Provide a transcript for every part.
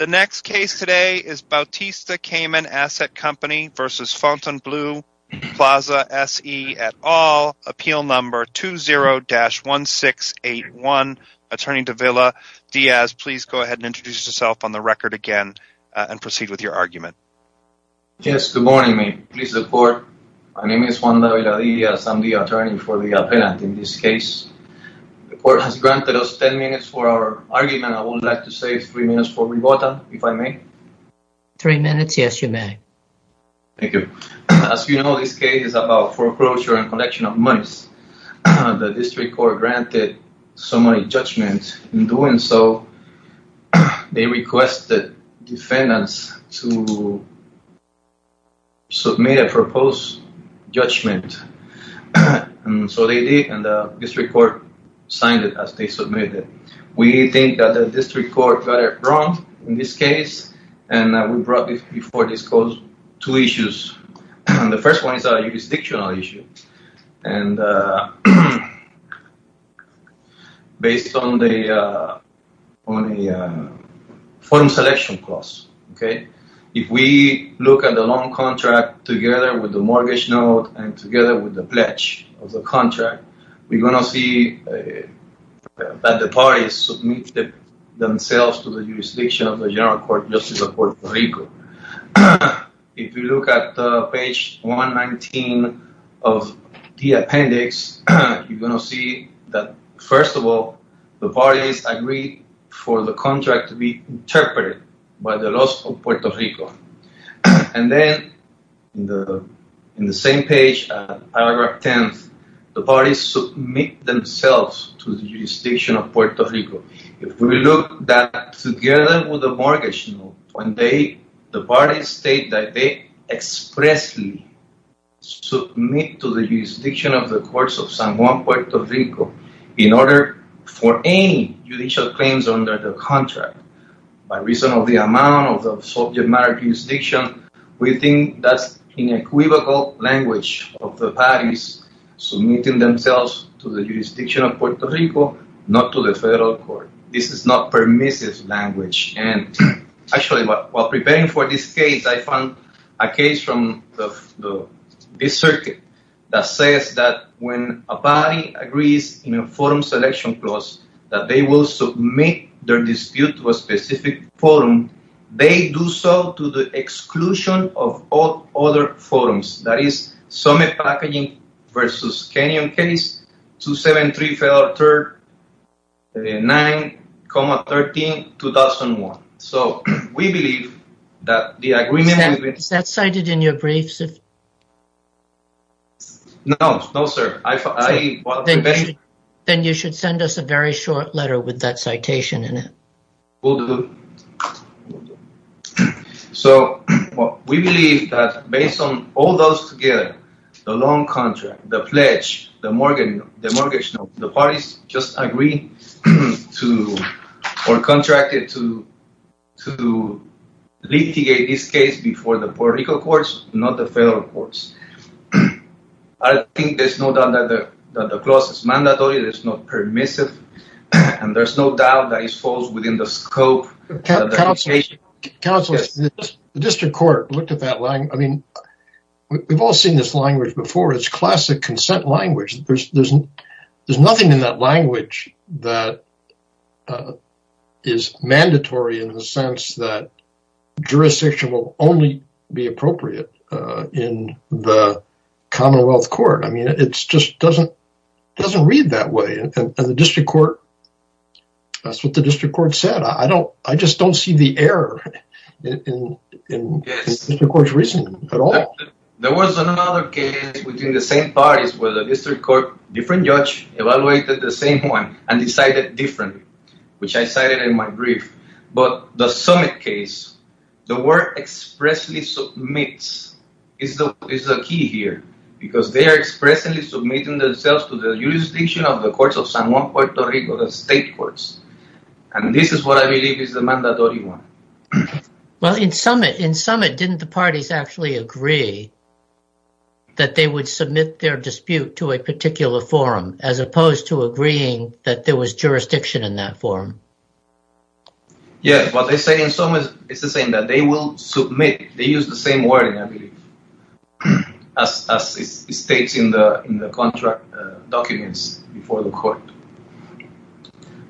et al. Appeal Number 20-1681. Attorney Davila Diaz, please go ahead and introduce yourself on the record again and proceed with your argument. Yes. Good morning, mate. Please support. My name is Juan Davila Diaz. I'm the attorney for the appellant in this case. The court has granted us ten minutes for our argument. I would like to save three minutes for rebuttal. Three minutes. Yes, you may. Thank you. As you know, this case is about foreclosure and collection of monies. The district court granted someone a judgment. In doing so, they requested defendants to submit a proposed judgment. So they did, and the district court signed it as they submitted it. We think that the district court got it wrong in this case, and we brought before this court two issues. The first one is a jurisdictional issue, based on the forum selection clause. If we look at the loan contract together with the mortgage note and together with the pledge of the contract, we're going to see that the parties submitted themselves to the jurisdiction of the General Court of Justice of Puerto Rico. If you look at page 119 of the appendix, you're going to see that, first of all, the parties agreed for the contract to be interpreted by the laws of Puerto Rico. And then in the same page, paragraph 10, the parties submit themselves to the jurisdiction of Puerto Rico. If we look at that together with the mortgage note, the parties state that they expressly submit to the jurisdiction of the courts of San Juan, Puerto Rico, in order for any judicial claims under the contract, by reason of the amount of the subject matter jurisdiction, we think that's an equivocal language of the parties submitting themselves to the jurisdiction of Puerto Rico, not to the federal court. This is not permissive language. Actually, while preparing for this case, I found a case from the circuit that says that when a party agrees in a forum selection clause, that they will submit their dispute to a specific forum, they do so to the exclusion of all other forums. That is Summit Packaging versus Kenyon case, 273, 9, 13, 2001. So we believe that the agreement— Is that cited in your briefs? No, no, sir. Then you should send us a very short letter with that citation in it. Will do. So we believe that based on all those together, the loan contract, the pledge, the mortgage note, the parties just agree to or contracted to litigate this case before the Puerto Rico courts, not the federal courts. I think there's no doubt that the clause is mandatory. It is not permissive. And there's no doubt that it falls within the scope of litigation. Counsel, the district court looked at that. I mean, we've all seen this language before. It's classic consent language. There's nothing in that language that is mandatory in the sense that jurisdiction will only be appropriate in the Commonwealth Court. I mean, it just doesn't read that way. And the district court, that's what the district court said. I just don't see the error in the district court's reasoning at all. There was another case within the same parties where the district court, different judge, evaluated the same one and decided differently, which I cited in my brief. But the summit case, the word expressly submits is the key here because they are expressly submitting themselves to the jurisdiction of the courts of San Juan, Puerto Rico, the state courts. And this is what I believe is the mandatory one. Well, in summit, in summit, didn't the parties actually agree that they would submit their dispute to a particular forum as opposed to agreeing that there was jurisdiction in that forum? Yeah, well, they say in some ways it's the same that they will submit. They use the same wording, I believe, as states in the contract documents before the court.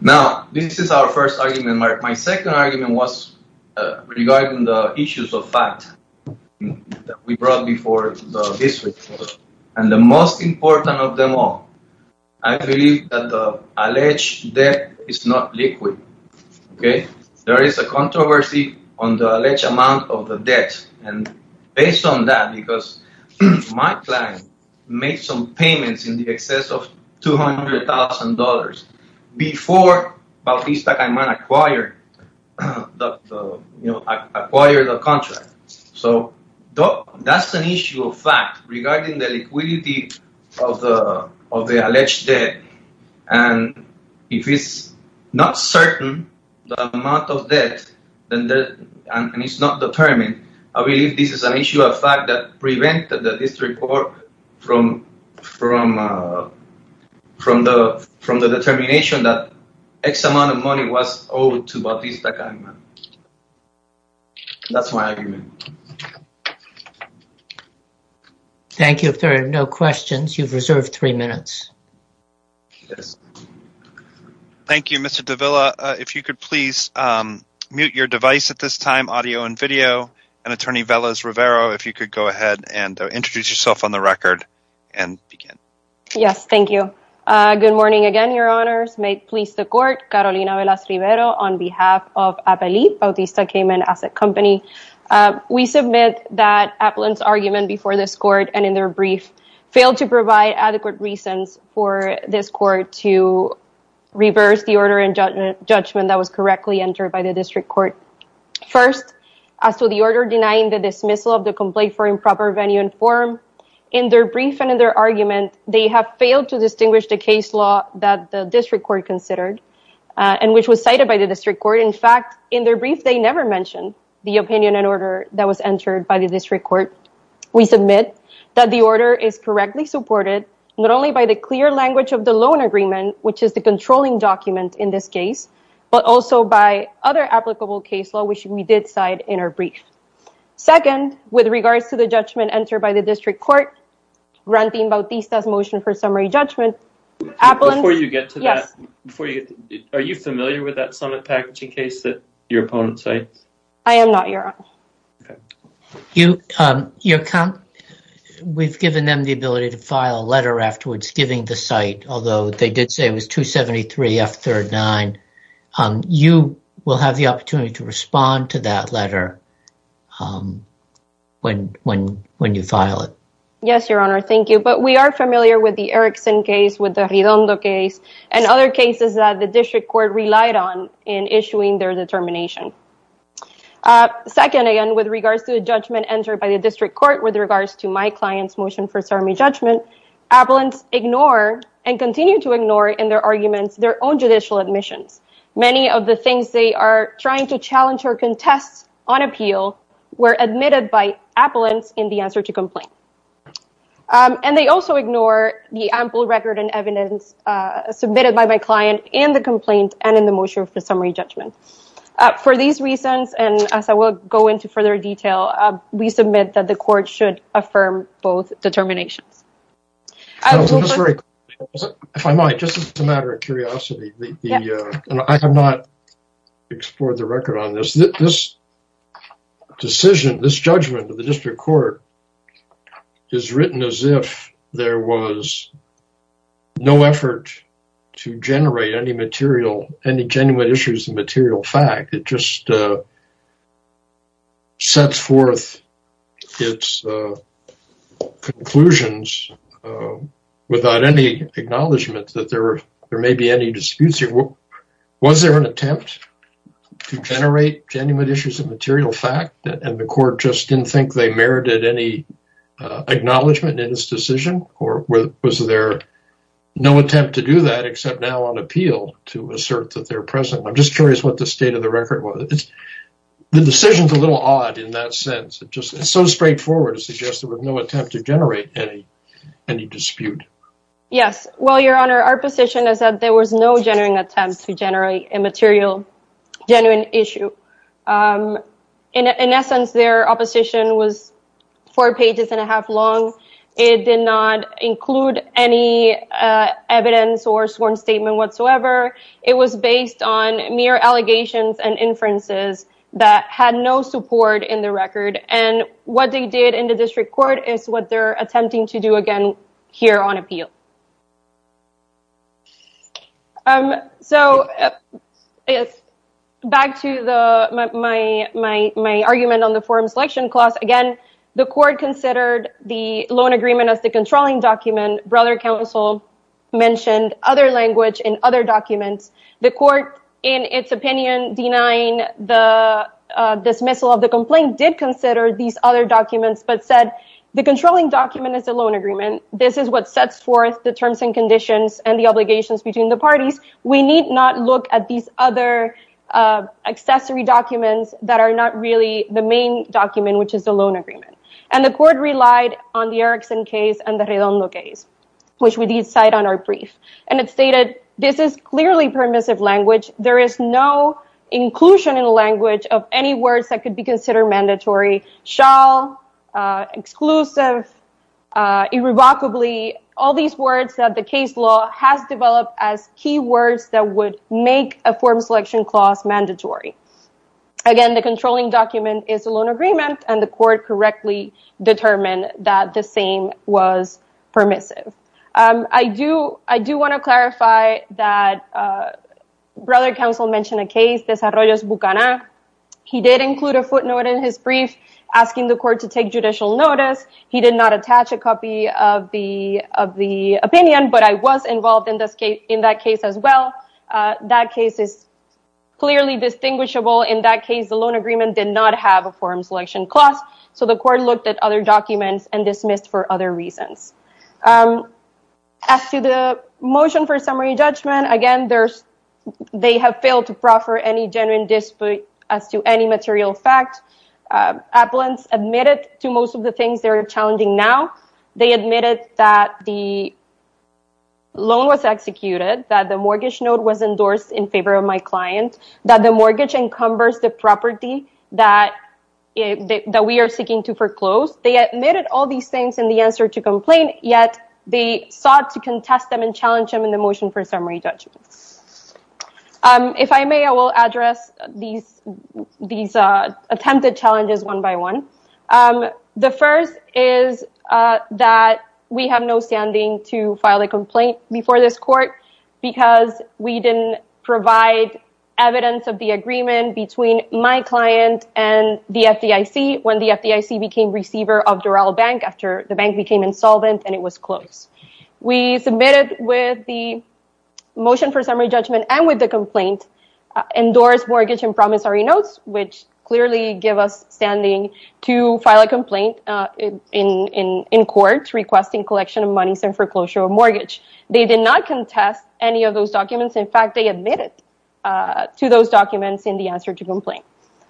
Now, this is our first argument. My second argument was regarding the issues of fact that we brought before the district court. And the most important of them all, I believe that the alleged debt is not liquid. Okay? There is a controversy on the alleged amount of the debt. And based on that, because my client made some payments in the excess of $200,000 before Bautista-Cayman acquired the contract. So that's an issue of fact regarding the liquidity of the alleged debt. And if it's not certain the amount of debt and it's not determined, I believe this is an issue of fact that prevented the district court from the determination that X amount of money was owed to Bautista-Cayman. That's my argument. Thank you. If there are no questions, you've reserved three minutes. Yes. Thank you, Mr. Davila. If you could please mute your device at this time, audio and video. And Attorney Velas-Rivero, if you could go ahead and introduce yourself on the record and begin. Yes, thank you. Good morning again, Your Honors. May it please the court, Carolina Velas-Rivero on behalf of Appellee Bautista-Cayman Asset Company. We submit that Appellant's argument before this court and in their brief failed to provide adequate reasons for this court to reverse the order and judgment that was correctly entered by the district court. First, as to the order denying the dismissal of the complaint for improper venue and form, in their brief and in their argument, they have failed to distinguish the case law that the district court considered and which was cited by the district court. In fact, in their brief, they never mentioned the opinion and order that was entered by the district court. We submit that the order is correctly supported, not only by the clear language of the loan agreement, which is the controlling document in this case, but also by other applicable case law, which we did cite in our brief. Second, with regards to the judgment entered by the district court, granting Bautista's motion for summary judgment, Appellant... Before you get to that, are you familiar with that summit packaging case that your opponent cited? I am not, Your Honor. We've given them the ability to file a letter afterwards, giving the site, although they did say it was 273F39. You will have the opportunity to respond to that letter when you file it. Yes, Your Honor. Thank you. But we are familiar with the Erickson case, with the Redondo case, and other cases that the district court relied on in issuing their determination. Second, again, with regards to the judgment entered by the district court with regards to my client's motion for summary judgment, Appellants ignore and continue to ignore in their arguments their own judicial admissions. Many of the things they are trying to challenge or contest on appeal were admitted by Appellants in the answer to complaint. And they also ignore the ample record and evidence submitted by my client in the complaint and in the motion for summary judgment. For these reasons, and as I will go into further detail, we submit that the court should affirm both determinations. If I might, just as a matter of curiosity, I have not explored the record on this. This decision, this judgment of the district court is written as if there was no effort to generate any material, any genuine issues of material fact. It just sets forth its conclusions without any acknowledgment that there may be any disputes. Was there an attempt to generate genuine issues of material fact and the court just didn't think they merited any acknowledgement in this decision? Or was there no attempt to do that except now on appeal to assert that they're present? I'm just curious what the state of the record was. The decision is a little odd in that sense. It's just so straightforward to suggest there was no attempt to generate any dispute. Yes. Well, Your Honor, our position is that there was no genuine attempt to generate a material, genuine issue. In essence, their opposition was four pages and a half long. It did not include any evidence or sworn statement whatsoever. It was based on mere allegations and inferences that had no support in the record. And what they did in the district court is what they're attempting to do again here on appeal. So back to my argument on the forum selection clause. Again, the court considered the loan agreement as the controlling document. Brother counsel mentioned other language in other documents. The court, in its opinion, denying the dismissal of the complaint did consider these other documents, but said the controlling document is a loan agreement. This is what sets forth the terms and conditions and the obligations between the parties. We need not look at these other accessory documents that are not really the main document, which is the loan agreement. And the court relied on the Erickson case and the Redondo case, which we did cite on our brief. And it stated this is clearly permissive language. There is no inclusion in the language of any words that could be considered mandatory, shall, exclusive, irrevocably. All these words that the case law has developed as key words that would make a form selection clause mandatory. Again, the controlling document is a loan agreement and the court correctly determined that the same was permissive. I do I do want to clarify that brother counsel mentioned a case. This is Bucana. He did include a footnote in his brief asking the court to take judicial notice. He did not attach a copy of the of the opinion, but I was involved in this case in that case as well. That case is clearly distinguishable. In that case, the loan agreement did not have a form selection clause. So the court looked at other documents and dismissed for other reasons. As to the motion for summary judgment, again, there's they have failed to proffer any genuine dispute as to any material fact. Appellants admitted to most of the things they're challenging now. They admitted that the. Loan was executed, that the mortgage note was endorsed in favor of my client, that the mortgage encumbers the property that that we are seeking to foreclose. They admitted all these things in the answer to complain. Yet they sought to contest them and challenge them in the motion for summary judgments. If I may, I will address these these attempted challenges one by one. The first is that we have no standing to file a complaint before this court because we didn't provide evidence of the agreement between my client and the FDIC. When the FDIC became receiver of Doral Bank, after the bank became insolvent and it was closed, we submitted with the motion for summary judgment and with the complaint endorsed mortgage and promissory notes, which clearly give us standing to file a complaint in court requesting collection of monies and foreclosure of mortgage. They did not contest any of those documents. In fact, they admitted to those documents in the answer to complain.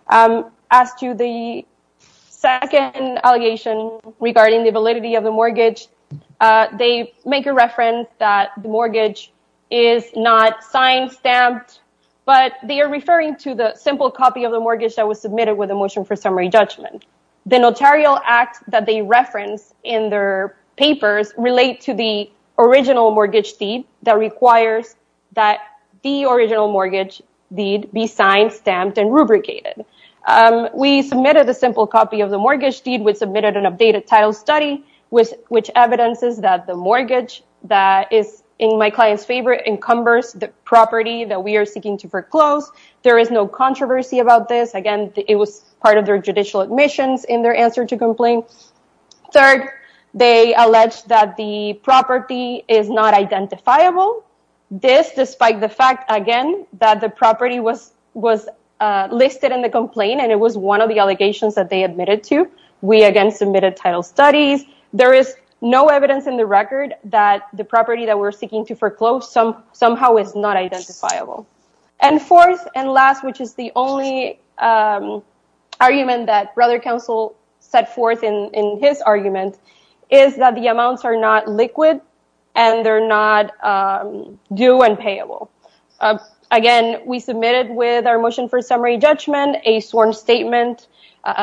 As to the second allegation regarding the validity of the mortgage, they make a reference that the mortgage is not signed, stamped, but they are referring to the simple copy of the mortgage that was submitted with a motion for summary judgment. The notarial act that they reference in their papers relate to the original mortgage deed that requires that the original mortgage deed be signed, stamped, and rubricated. We submitted a simple copy of the mortgage deed, which submitted an updated title study, which evidences that the mortgage that is in my client's favor encumbers the property that we are seeking to foreclose. There is no controversy about this. Again, it was part of their judicial admissions in their answer to complain. Third, they allege that the property is not identifiable. This, despite the fact, again, that the property was listed in the complaint and it was one of the allegations that they admitted to, we again submitted title studies. There is no evidence in the record that the property that we're seeking to foreclose somehow is not identifiable. And fourth and last, which is the only argument that Brother Counsel set forth in his argument, is that the amounts are not liquid and they're not due and payable. Again, we submitted with our motion for summary judgment a sworn statement,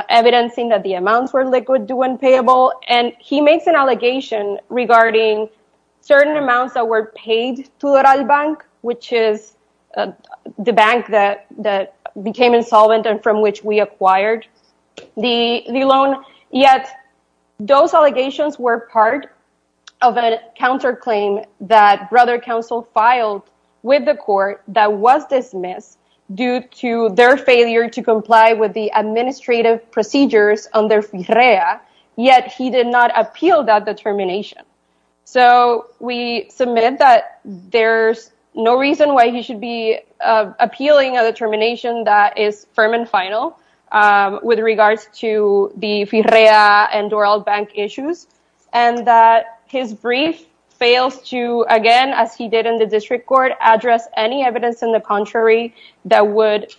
evidencing that the amounts were liquid, due, and payable. And he makes an allegation regarding certain amounts that were paid to Doral Bank, which is the bank that became insolvent and from which we acquired the loan. Yet those allegations were part of a counterclaim that Brother Counsel filed with the court that was dismissed due to their failure to comply with the administrative procedures under FIRREA. Yet he did not appeal that determination. So we submit that there's no reason why he should be appealing a determination that is firm and final with regards to the FIRREA and Doral Bank issues, and that his brief fails to, again, as he did in the district court, address any evidence in the contrary that would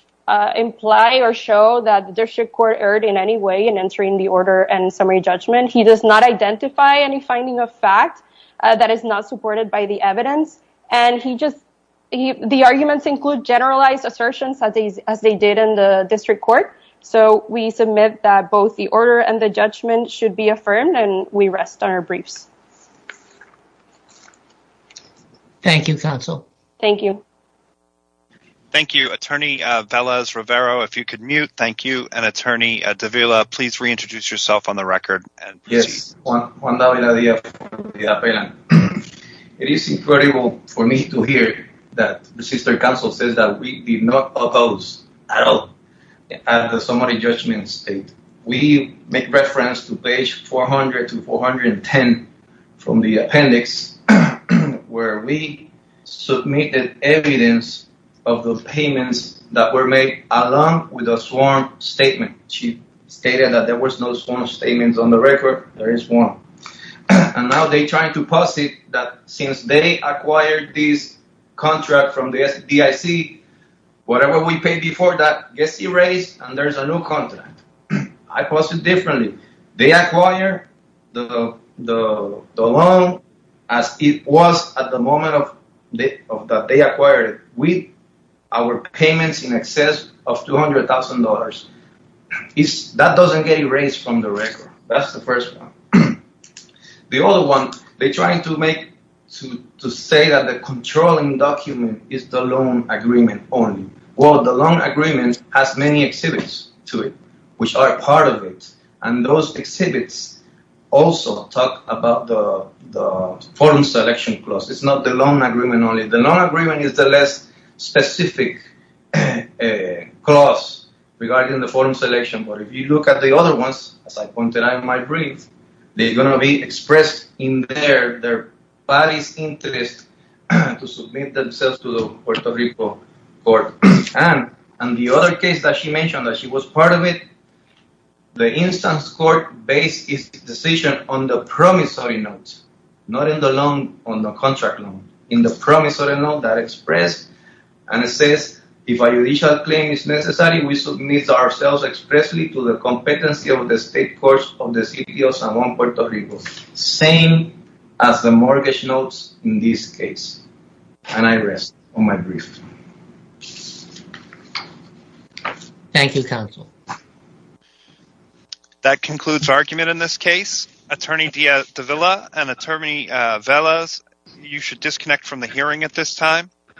imply or show that the district court erred in any way in entering the order and summary judgment. He does not identify any finding of fact that is not supported by the evidence, and the arguments include generalized assertions as they did in the district court. So we submit that both the order and the judgment should be affirmed, and we rest on our briefs. Thank you, Counsel. Thank you. Attorney Velez-Rivero, if you could mute. Thank you. And, Attorney Davila, please reintroduce yourself on the record. Yes. Juan Davila Diaz. It is incredible for me to hear that Sister Counsel says that we did not oppose at all the summary judgment state. We make reference to page 400 to 410 from the appendix where we submitted evidence of the payments that were made along with a sworn statement. She stated that there was no sworn statements on the record. There is one. And now they're trying to posit that since they acquired this contract from the DIC, whatever we paid before that gets erased and there's a new contract. I posit differently. They acquire the loan as it was at the moment that they acquired it with our payments in excess of $200,000. That doesn't get erased from the record. That's the first one. The other one they're trying to make to say that the controlling document is the loan agreement only. Well, the loan agreement has many exhibits to it which are part of it. And those exhibits also talk about the form selection clause. It's not the loan agreement only. The loan agreement is the less specific clause regarding the form selection. But if you look at the other ones, as I pointed out in my brief, they're going to be expressed in their body's interest to submit themselves to the Puerto Rico court. And the other case that she mentioned that she was part of it, the instance court based its decision on the promissory notes, not on the contract loan. In the promissory note that expressed, and it says, if a judicial claim is necessary, we submit ourselves expressly to the competency of the state courts of the city of San Juan, Puerto Rico. Same as the mortgage notes in this case. And I rest on my brief. Thank you, counsel. That concludes argument in this case. Attorney DeVilla and Attorney Velez, you should disconnect from the hearing at this time.